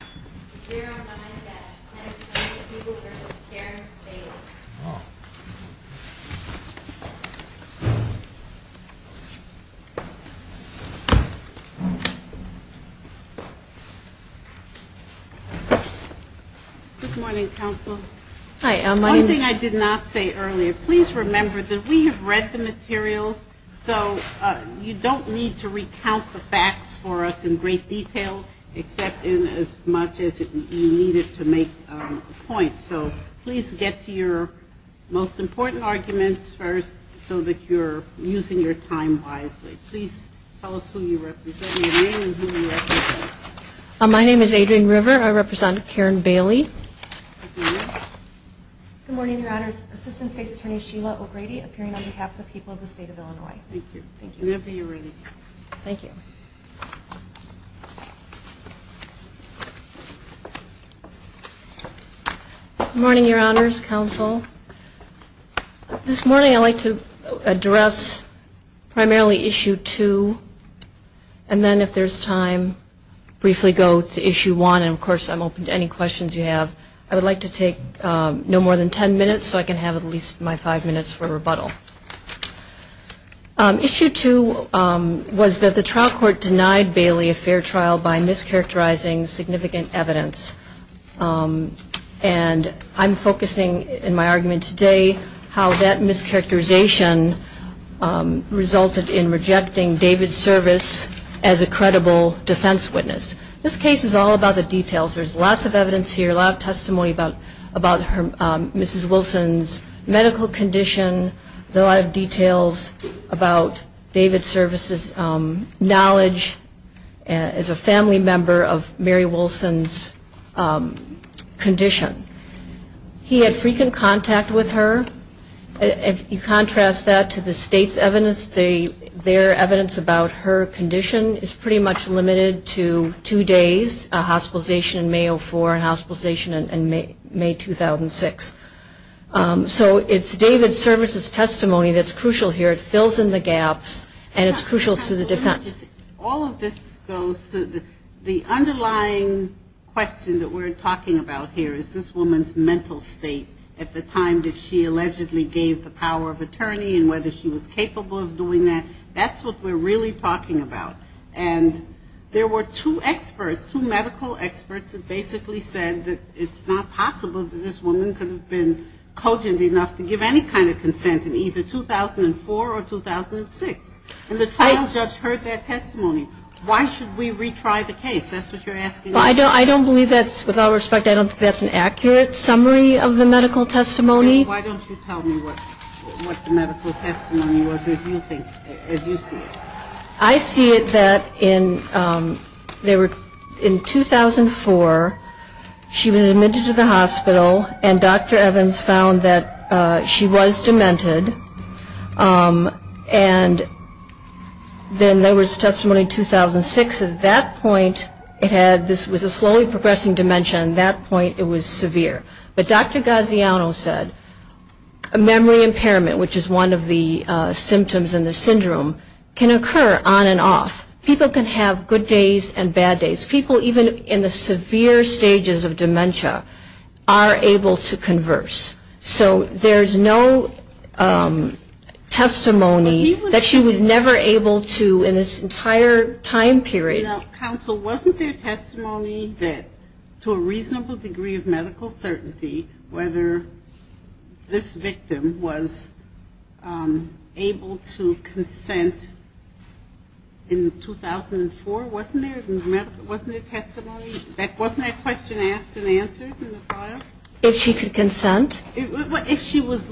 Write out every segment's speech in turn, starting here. Good morning, Council. One thing I did not say earlier, please remember that we have read the materials, so you don't need to recount the facts for us in great detail except in case you need it to make a point. So please get to your most important arguments first so that you're using your time wisely. Please tell us who you represent, your name and who you represent. Adrienne River My name is Adrienne River. I represent Karen Bailey. Sheila O'Grady Good morning, Your Honors. Assistant State's Attorney Sheila O'Grady, appearing on behalf of the people of the state of Illinois. Adrienne River Thank you. Sheila O'Grady Thank you. Adrienne River Whenever you're ready. Sheila O'Grady Thank you. Sheila O'Grady Good morning, Your Honors, Council. This morning I'd like to address primarily Issue 2, and then if there's time, briefly go to Issue 1, and of course I'm open to any questions you have. I would like to take no more than ten minutes so I can have at least my five minutes for rebuttal. Issue 2 was that the trial court denied Bailey a fair trial by mischaracterizing significant evidence, and I'm focusing in my argument today how that mischaracterization resulted in rejecting David's service as a credible defense witness. This case is all about the details. There's lots of evidence here, a lot of testimony about Mrs. Wilson's medical condition, a lot of details about David's service's knowledge as a family member of Mary Wilson's condition. He had frequent contact with her. If you contrast that to the state's evidence, their evidence about her condition is pretty much limited to two days, a hospitalization in May of 2004 and a hospitalization in May 2006. So it's David's service's testimony that's crucial here. It fills in the gaps, and it's crucial to the defense. All of this goes to the underlying question that we're talking about here is this woman's mental state at the time that she allegedly gave the power of attorney and whether she was capable of doing that. That's what we're really talking about. And there were two experts, two medical experts that basically said that it's not possible that this woman could have been cogent enough to give any kind of consent in either 2004 or 2006. And the trial judge heard that testimony. Why should we retry the case? That's what you're asking. I don't believe that's, with all respect, I don't think that's an accurate summary of the medical testimony. Then why don't you tell me what the medical testimony was as you see it? I see it that in 2004, she was admitted to the hospital, and Dr. Evans found that she was demented. And then there was testimony in 2006. At that point, it had, this was a slowly progressing dementia. At that point, it was severe. But Dr. Gaziano said, memory impairment, which is one of the symptoms in the syndrome, can occur on and off. People can have good days and bad days. People even in the severe stages of dementia are able to converse. So there's no testimony that she was never able to in this entire time period. Now, counsel, wasn't there testimony that to a reasonable degree of medical certainty whether this victim was able to consent in 2004? Wasn't there? Wasn't it testimony? Wasn't that question asked and answered in the file? If she could consent? If she was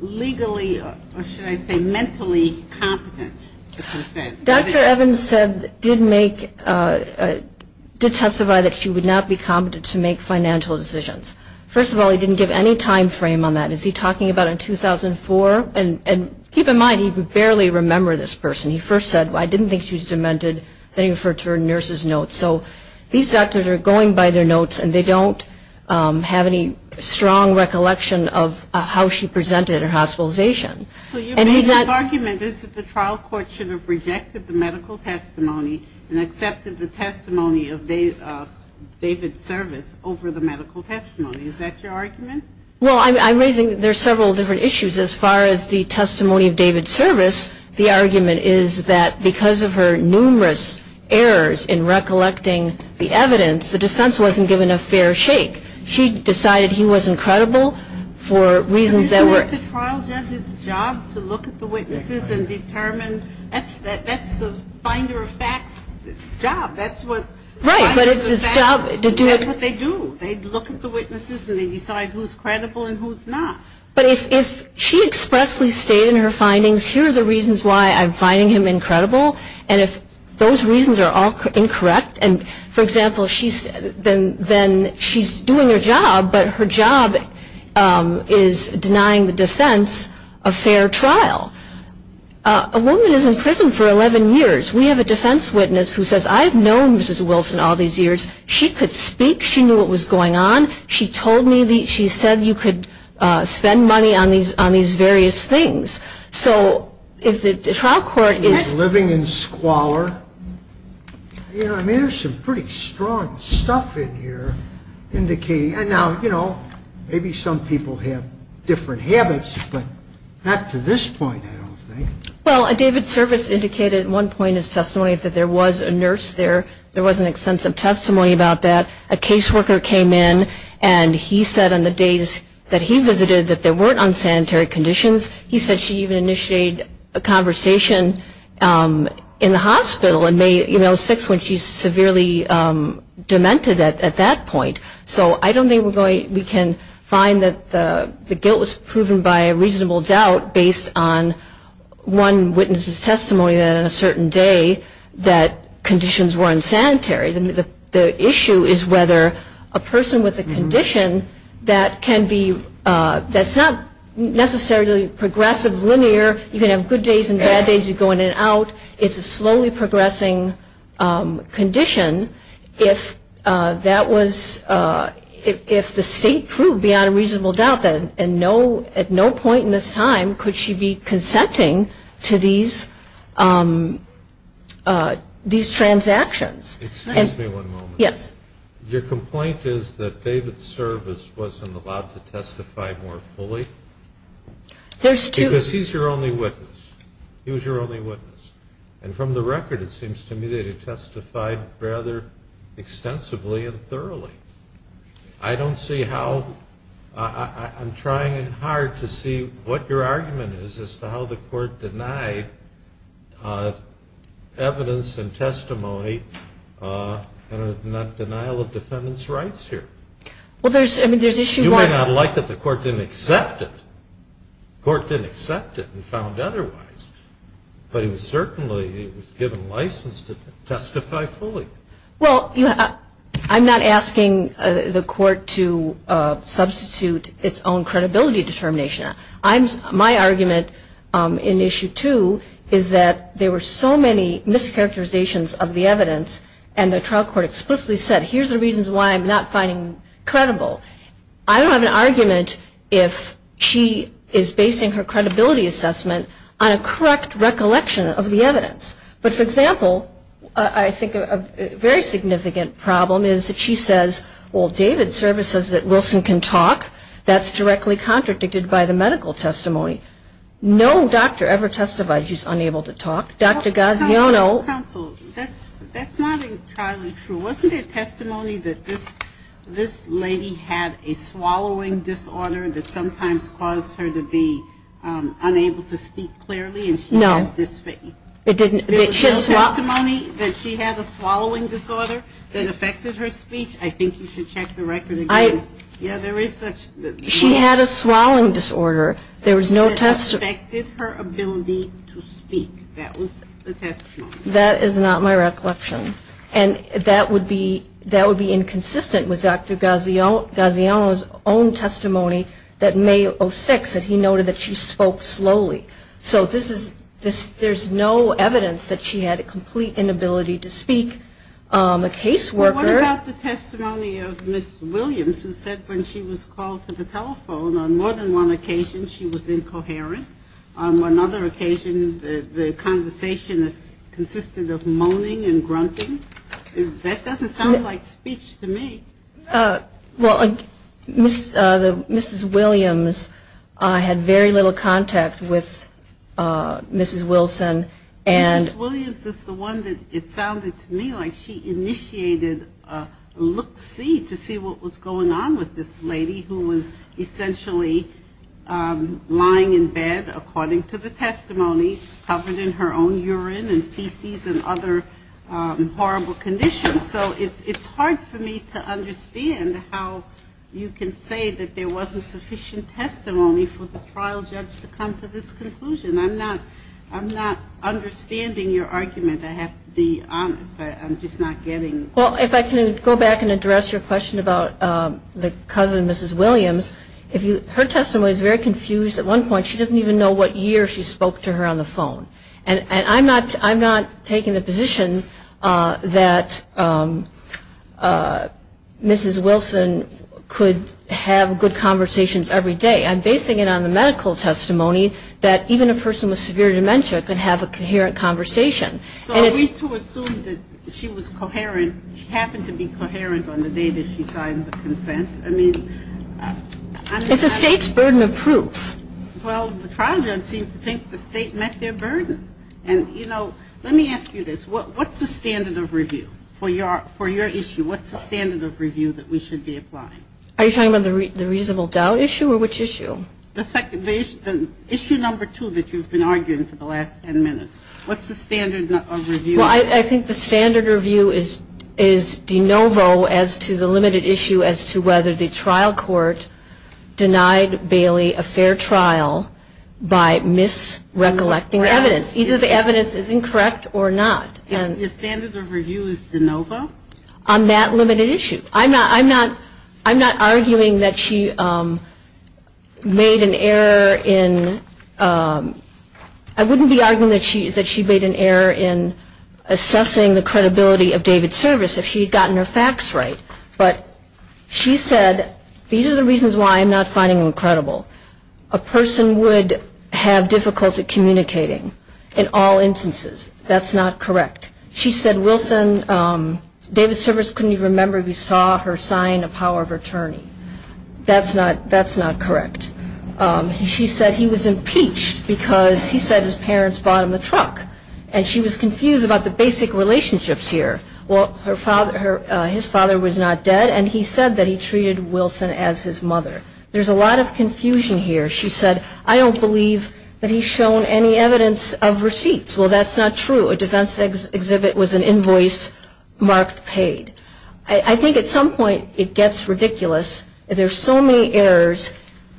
legally, or should I say mentally competent to consent. Dr. Evans said, did testify that she would not be competent to make financial decisions. First of all, he didn't give any time frame on that. Is he talking about in 2004? And keep in mind, he barely remembered this person. He first said, I didn't think she was demented. Then he referred to her nurse's notes. So these doctors are going by their notes, and they don't have any strong recollection of how she presented her hospitalization. So your basic argument is that the trial court should have rejected the medical testimony and accepted the testimony of David Service over the medical testimony. Is that your argument? Well, I'm raising, there's several different issues as far as the testimony of David Service. The argument is that because of her numerous errors in recollecting the evidence, the defense wasn't given a fair shake. She decided he wasn't credible for reasons that were I think the trial judge's job is to look at the witnesses and determine, that's the finder of facts job. That's what the finder of facts job is, that's what they do. They look at the witnesses and they decide who's credible and who's not. But if she expressly stated in her findings, here are the reasons why I'm finding him incredible, and if those reasons are all incorrect, and for example, then she's doing her job, but her job is denying the defense a fair trial. A woman is in prison for 11 years. We have a defense witness who says, I've known Mrs. Wilson all these years. She could speak. She knew what was going on. She told me, she said you could spend money on these various things. So if the trial court is Living in squalor. You know, I mean, there's some pretty strong stuff in here indicating, and now, you know, maybe some people have different habits, but not to this point, I don't think. Well, David Service indicated at one point in his testimony that there was a nurse there. There was an extensive testimony about that. A caseworker came in and he said on the days that he visited that there weren't unsanitary conditions. He said she even initiated a conversation in the hospital in May, you know, 6, when she severely demented at that point. So I don't think we can find that the guilt was proven by a reasonable doubt based on one witness's testimony that on a certain day that conditions were unsanitary. The issue is whether a person with a condition that can be, that's not necessarily progressive, linear. You can have good days and bad days. You go in and out. It's a slowly progressing condition. If that was, if the state proved beyond a reasonable doubt that at no point in this time could she be consenting to these transactions. Excuse me one moment. Yes. Your complaint is that David Service wasn't allowed to testify more fully? There's two. Because he's your only witness. He was your only witness. And from the record it seems to me that he testified rather extensively and thoroughly. I don't see how, I'm trying hard to see what your argument is as to how the court denied evidence and testimony and not denial of defendant's rights here. Well, there's, I mean, there's issue one. It's very not like that the court didn't accept it. The court didn't accept it and found otherwise. But he was certainly, he was given license to testify fully. Well, you know, I'm not asking the court to substitute its own credibility determination. My argument in issue two is that there were so many mischaracterizations of the evidence and the trial court explicitly said here's the reasons why I'm not finding credible. I don't have an argument if she is basing her credibility assessment on a correct recollection of the evidence. But for example, I think a very significant problem is that she says, well, David Service says that Wilson can talk. That's directly contradicted by the medical testimony. No doctor ever testified he's unable to talk. Dr. Gaziano counsel, that's, that's not entirely true. Wasn't there testimony that this, this lady had a swallowing disorder that sometimes caused her to be unable to speak clearly and she had this. It didn't, it should swap the money that she had a swallowing disorder that affected her speech. I think you should check the record. Yeah, there is such. She had a swallowing disorder. There was no test. That is not my recollection. And that would be, that would be inconsistent with Dr. Gaziano, Gaziano's own testimony that May of six that he noted that she spoke slowly. So this is this, there's no evidence that she had a complete inability to speak. A caseworker testimony of Ms. Williams, who said when she was called to the telephone on more than one occasion, she was incoherent. On one other occasion, the conversation is consistent of moaning and grunting. That doesn't sound like speech to me. Well, the Mrs. Williams had very little contact with Mrs. Wilson and. Mrs. Williams is the one that it sounded to me like she initiated a look see to see what was going on with this lady who was essentially lying in bed according to the testimony covered in her own urine and feces and other horrible conditions. So it's hard for me to understand how you can say that there wasn't sufficient testimony for the trial judge to come to this conclusion. I'm not, I'm not understanding your argument. I have to be honest. I'm just not getting. Well, if I can go back and address your question about the cousin of Mrs. Williams. Her testimony is very confused. At one point she doesn't even know what year she spoke to her on the phone. And I'm not taking the position that Mrs. Wilson could have good conversations every day. I'm basing it on the medical testimony that even a person with severe dementia could have a coherent conversation. So are we to assume that she was coherent, she happened to be coherent on the day that she signed the consent? I mean. It's the state's burden of proof. Well, the trial judge seemed to think the state met their burden. And you know, let me ask you this. What's the standard of review for your issue? What's the standard of review that we should be applying? Are you talking about the reasonable doubt issue or which issue? The issue number two that you've been arguing for the last ten minutes. What's the standard of review? Well, I think the standard of review is de novo as to the limited issue as to whether the trial court denied Bailey a fair trial by misrecollecting evidence. Either the evidence is incorrect or not. The standard of review is de novo? On that limited issue. I'm not arguing that she made an error in, I wouldn't be arguing that she made an error in assessing the credibility of David's service if she had gotten her facts right. But she said these are the reasons why I'm not finding them credible. A person would have difficulty communicating in all instances. That's not correct. She said Wilson, David's service couldn't even remember if he saw her sign a power of attorney. That's not correct. She said he was impeached because he said his parents bought him a truck. And she was confused about the basic relationships here. Well, his father was not dead and he said that he treated Wilson as his mother. There's a lot of confusion here. She said, I don't believe that he's shown any evidence of receipts. Well, that's not true. A defense exhibit was an invoice marked paid. I think at some point it gets ridiculous. There are so many errors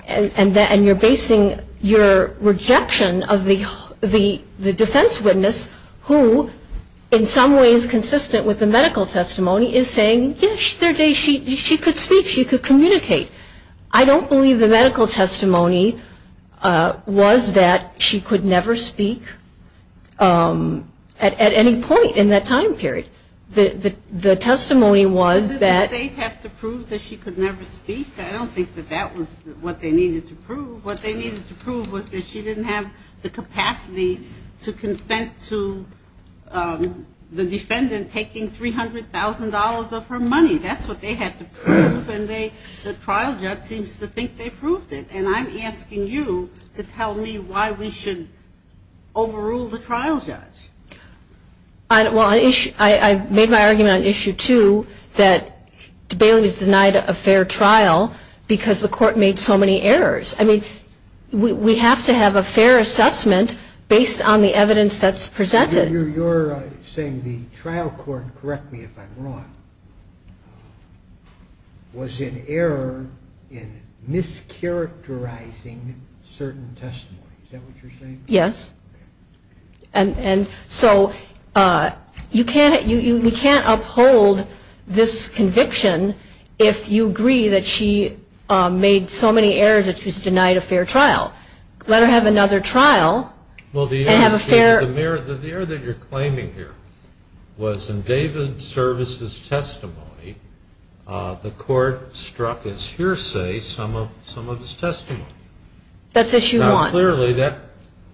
and you're basing your rejection of the defense witness who in some ways consistent with the medical testimony is saying, yes, she could speak, she could communicate. I don't believe the medical testimony was that she could never speak at any point in that time period. The testimony was that they have to prove that she could never speak. I don't think that that was what they needed to prove. What they needed to prove was that she didn't have the capacity to consent to the defendant taking $300,000 of her money. That's what they had to prove and the trial judge seems to think they proved it. And I'm asking you to tell me why we should overrule the trial judge. Well, I made my argument on issue two that Bailey was denied a fair trial because the court made so many errors. I mean, we have to have a fair assessment based on the evidence that's presented. You're saying the trial court, correct me if I'm wrong, was in error in mischaracterizing certain testimonies. Is that what you're saying? Yes. And so you can't uphold this conviction if you agree that she made so many errors that she's denied a fair trial. Let her have another trial. Well, the error that you're claiming here was in David Service's testimony the court struck as hearsay some of his testimony. That's issue one. Now, clearly that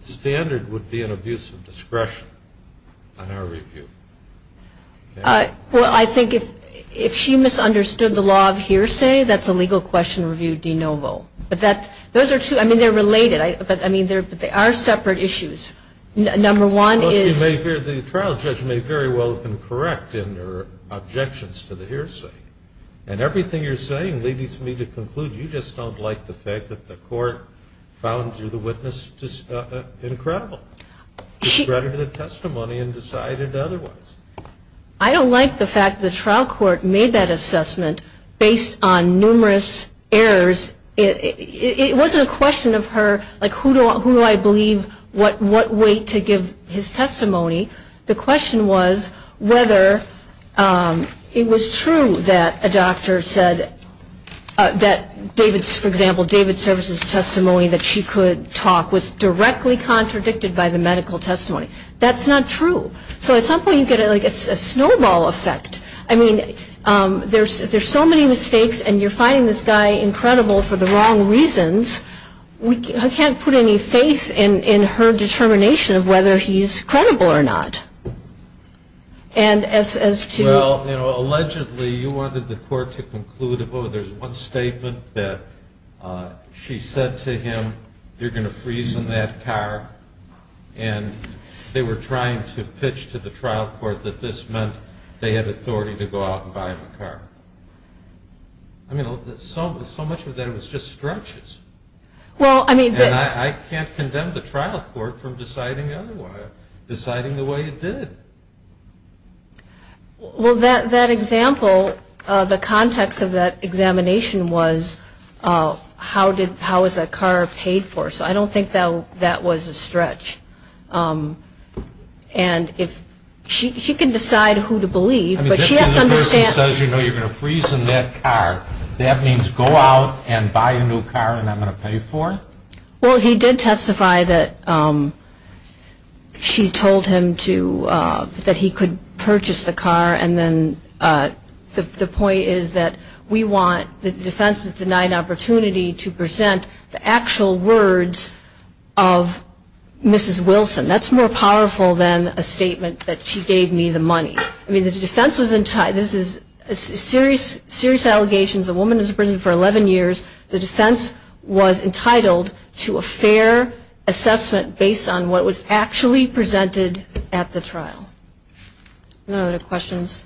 standard would be an abuse of discretion on our review. Well, I think if she misunderstood the law of hearsay, that's a legal question to review de novo. Those are two. I mean, they're related. But they are separate issues. Number one is the trial judge may very well have been correct in her objections to the hearsay. And everything you're saying leads me to conclude you just don't like the fact that the court found the witness incredible. She read her testimony and decided otherwise. I don't like the fact that the trial court made that assessment based on numerous errors. It wasn't a question of her, like, who do I believe, what weight to give his testimony. The question was whether it was true that a doctor said that, for example, David Service's testimony that she could talk was directly contradicted by the medical testimony. That's not true. So at some point you get like a snowball effect. I mean, there's so many mistakes. And you're finding this guy incredible for the wrong reasons. I can't put any faith in her determination of whether he's credible or not. Well, you know, allegedly you wanted the court to conclude, oh, there's one statement that she said to him, you're going to freeze in that car. And they were trying to pitch to the trial court that this meant they had authority to go out and buy him a car. I mean, so much of that was just stretches. And I can't condemn the trial court for deciding otherwise, deciding the way it did. Well, that example, the context of that examination was, how was that car paid for? So I don't think that was a stretch. And if she can decide who to believe, but she has to understand. I mean, just because the person says, you know, you're going to freeze in that car, that means go out and buy a new car and I'm going to pay for it? Well, he did testify that she told him to, that he could purchase the car. And then the point is that we want the defense's denied opportunity to present the actual words of Mrs. Wilson. That's more powerful than a statement that she gave me the money. I mean, the defense was, this is serious allegations. The woman was in prison for 11 years. The defense was entitled to a fair assessment based on what was actually presented at the trial. Are there other questions?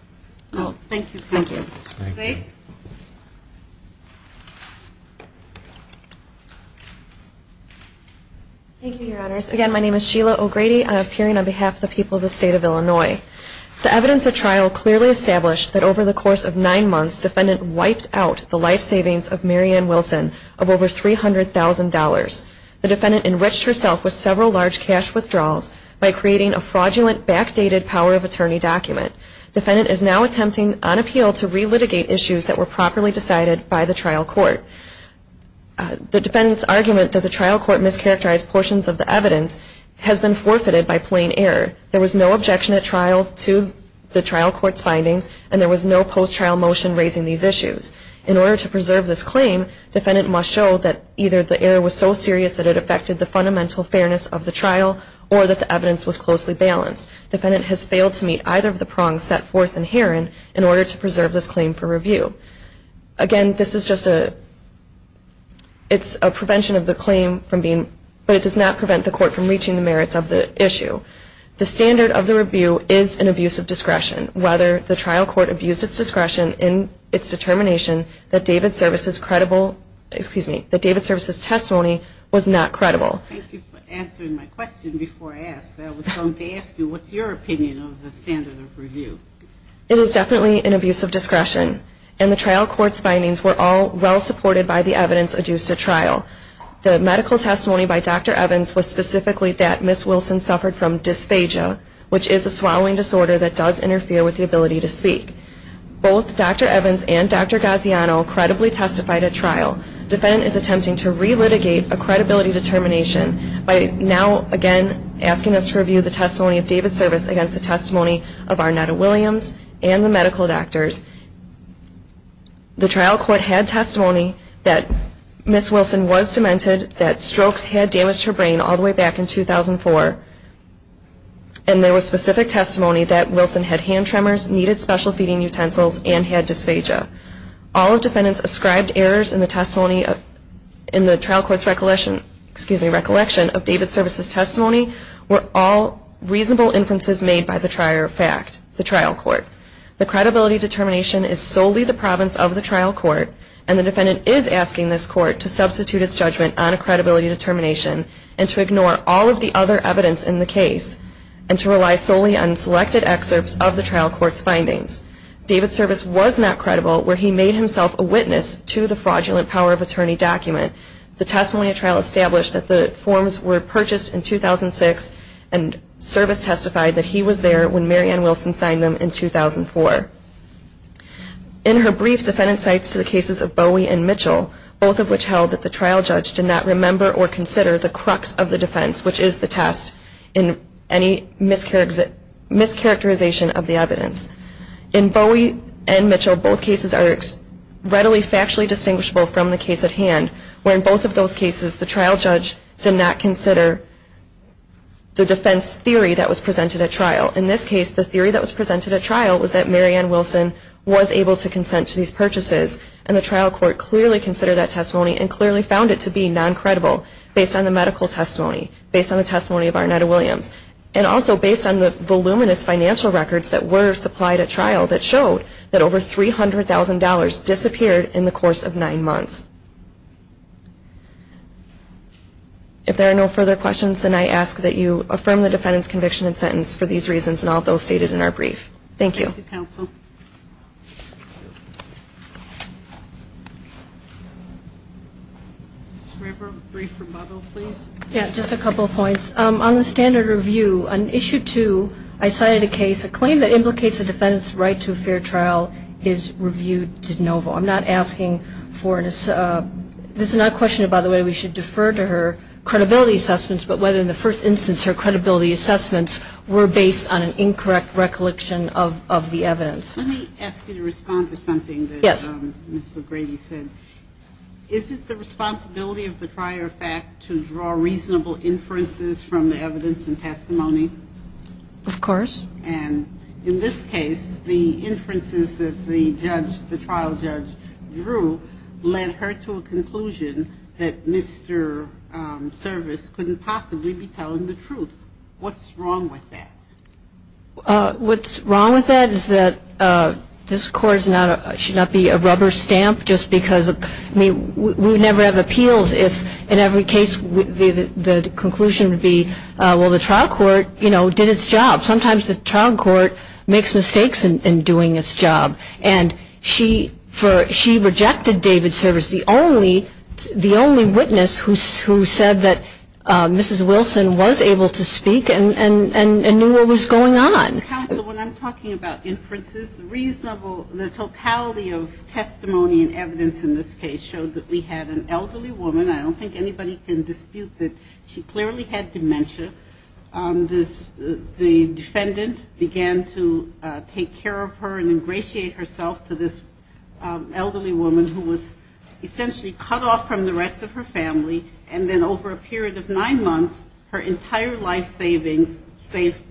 No, thank you. Thank you. Thank you. Thank you, Your Honors. Again, my name is Sheila O'Grady. I'm appearing on behalf of the people of the state of Illinois. The evidence at trial clearly established that over the course of nine months, defendant wiped out the life savings of Marianne Wilson of over $300,000. The defendant enriched herself with several large cash withdrawals by creating a fraudulent backdated power of attorney document. Defendant is now attempting on appeal to re-litigate issues that were properly decided by the trial court. The defendant's argument that the trial court mischaracterized portions of the evidence has been forfeited by plain error. There was no objection at trial to the trial court's findings and there was no post-trial motion raising these issues. In order to preserve this claim, defendant must show that either the error was so serious that it affected the fundamental fairness of the trial or that the evidence was closely balanced. Defendant has failed to meet either of the prongs set forth in Heron in order to preserve this claim for review. Again, this is just a, it's a prevention of the claim from being, but it does not prevent the court from reaching the merits of the issue. The standard of the review is an abuse of discretion. Whether the trial court abused its discretion in its determination that David Service's credible, excuse me, that David Service's testimony was not credible. Thank you for answering my question before I asked. I was going to ask you, what's your opinion of the standard of review? It is definitely an abuse of discretion. And the trial court's findings were all well supported by the evidence adduced at trial. The medical testimony by Dr. Evans was specifically that Ms. Wilson suffered from dysphagia, which is a swallowing disorder that does interfere with the ability to speak. Both Dr. Evans and Dr. Gaziano credibly testified at trial. Defendant is attempting to re-litigate a credibility determination by now again asking us to review the testimony of David Service against the testimony of Arnetta Williams and the medical doctors. The trial court had testimony that Ms. Wilson was demented, that strokes had damaged her brain all the way back in 2004. And there was specific testimony that Wilson had hand tremors, needed special feeding utensils, and had dysphagia. All defendants ascribed errors in the testimony in the trial court's recollection of David Service's testimony were all reasonable inferences made by the trial court. The credibility determination is solely the province of the trial court and the defendant is asking this court to substitute its judgment on a credibility determination and to ignore all of the other evidence in the case and to rely solely on selected excerpts of the trial court's findings. David Service was not credible where he made himself a witness to the fraudulent Power of Attorney document. The testimony at trial established that the forms were purchased in 2006 and Service testified that he was there when Mary Ann Wilson signed them in 2004. In her brief, defendant cites the cases of Bowie and Mitchell, both of which held that the trial judge did not remember or consider the crux of the defense, which is the test, in any mischaracterization of the evidence. In Bowie and Mitchell, both cases are readily factually distinguishable from the case at hand, where in both of those cases the trial judge did not consider the defense theory that was presented at trial. In this case, the theory that was presented at trial was that Mary Ann Wilson was able to consent to these purchases and the trial court clearly considered that testimony and clearly found it to be non-credible based on the medical testimony, based on the testimony of Arnetta Williams, and also based on the voluminous financial records that were supplied at trial that showed that over $300,000 disappeared in the course of nine months. If there are no further questions, then I ask that you affirm the defendant's conviction and sentence for these reasons and all those stated in our brief. Thank you. Thank you, counsel. Ms. River, a brief rebuttal, please. Yeah, just a couple of points. On the standard review, on Issue 2, I cited a case, a claim that implicates a defendant's right to a fair trial is reviewed de novo. I'm not asking for an assessment. This is not a question about whether we should defer to her credibility assessments, but whether in the first instance her credibility assessments were based on an incorrect recollection of the evidence. Let me ask you to respond to something that Ms. O'Grady said. Is it the responsibility of the prior fact to draw reasonable inferences from the evidence and testimony? Of course. And in this case, the inferences that the trial judge drew led her to a conclusion that Mr. Service couldn't possibly be telling the truth. What's wrong with that? What's wrong with that is that this Court should not be a rubber stamp just because we would never have appeals if in every case the conclusion would be well, the trial court, you know, did its job. Sometimes the trial court makes mistakes in doing its job. And she rejected David Service, the only witness who said that Mrs. Wilson was able to speak and knew what was going on. Counsel, when I'm talking about inferences, the totality of testimony and evidence in this case showed that we had an elderly woman. I don't think anybody can dispute that she clearly had dementia. The defendant began to take care of her and ingratiate herself to this elderly woman who was essentially cut off from the rest of her family and then over a period of nine months, her entire life savings, except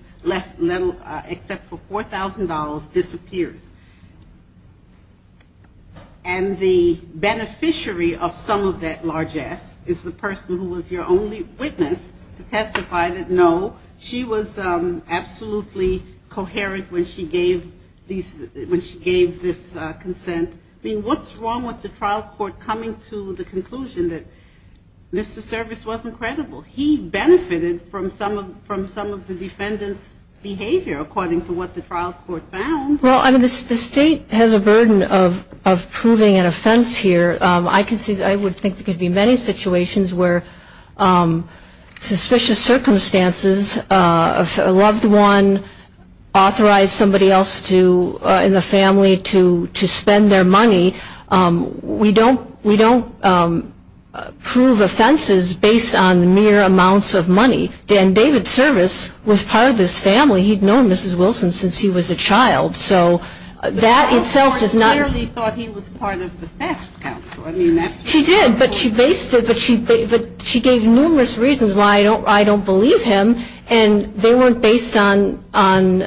for $4,000, disappears. And the beneficiary of some of that largesse is the person who was your only witness to testify that no, she was absolutely coherent when she gave this consent. I mean, what's wrong with the trial court coming to the conclusion that Mr. Service wasn't credible? He benefited from some of the defendant's behavior according to what the trial court found. Well, I mean, the state has a burden of proving an offense here. I would think there could be many situations where suspicious circumstances, a loved one authorized somebody else in the family to spend their money. We don't prove offenses based on mere amounts of money. And David Service was part of this family. He'd known Mrs. Wilson since he was a child. So that itself does not... The trial court clearly thought he was part of the best counsel. She did, but she gave numerous reasons why I don't believe him. And they weren't based on an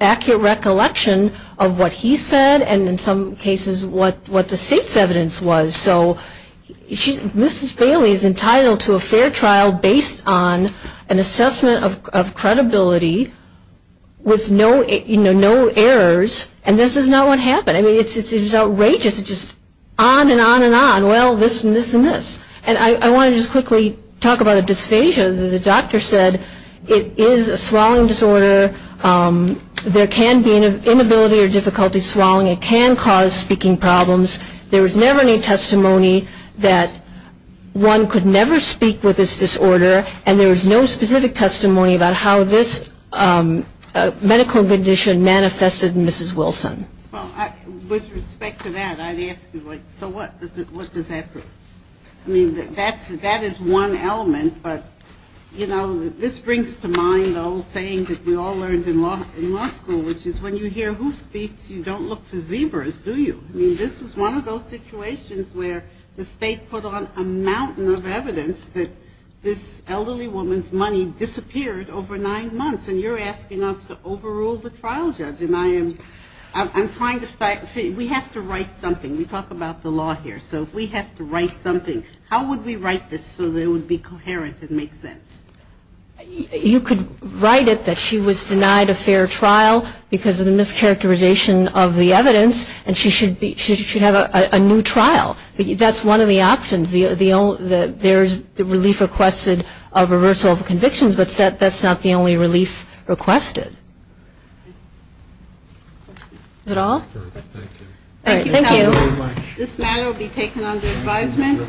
accurate recollection of what he said and in some cases what the state's evidence was. So Mrs. Bailey is entitled to a fair trial based on an assessment of credibility with no errors. And this is not what happened. I mean, it's outrageous. It's just on and on and on. Well, this and this and this. And I want to just quickly talk about a dysphagia. The doctor said it is a swallowing disorder. There can be an inability or difficulty swallowing. It can cause speaking problems. There was never any testimony that one could never speak with this disorder. And there was no specific testimony about how this medical condition manifested in Mrs. Wilson. Well, with respect to that, I'd ask you, so what does that prove? I mean, that is one element, but, you know, this brings to mind the old saying that we all learned in law school, which is when you hear who speaks, you don't look for zebras, do you? I mean, this is one of those situations where the state put on a mountain of evidence that this elderly woman's money disappeared over nine months, and you're asking us to overrule the trial judge. And I am trying to... We have to write something. We talk about the law here. So if we have to write something, how would we write this so that it would be coherent and make sense? You could write it that she was denied a fair trial because of the mischaracterization of the evidence, and she should have a new trial. That's one of the options. There's relief requested of reversal of convictions, but that's not the only relief requested. Is that all? Thank you. This matter will be taken under advisement.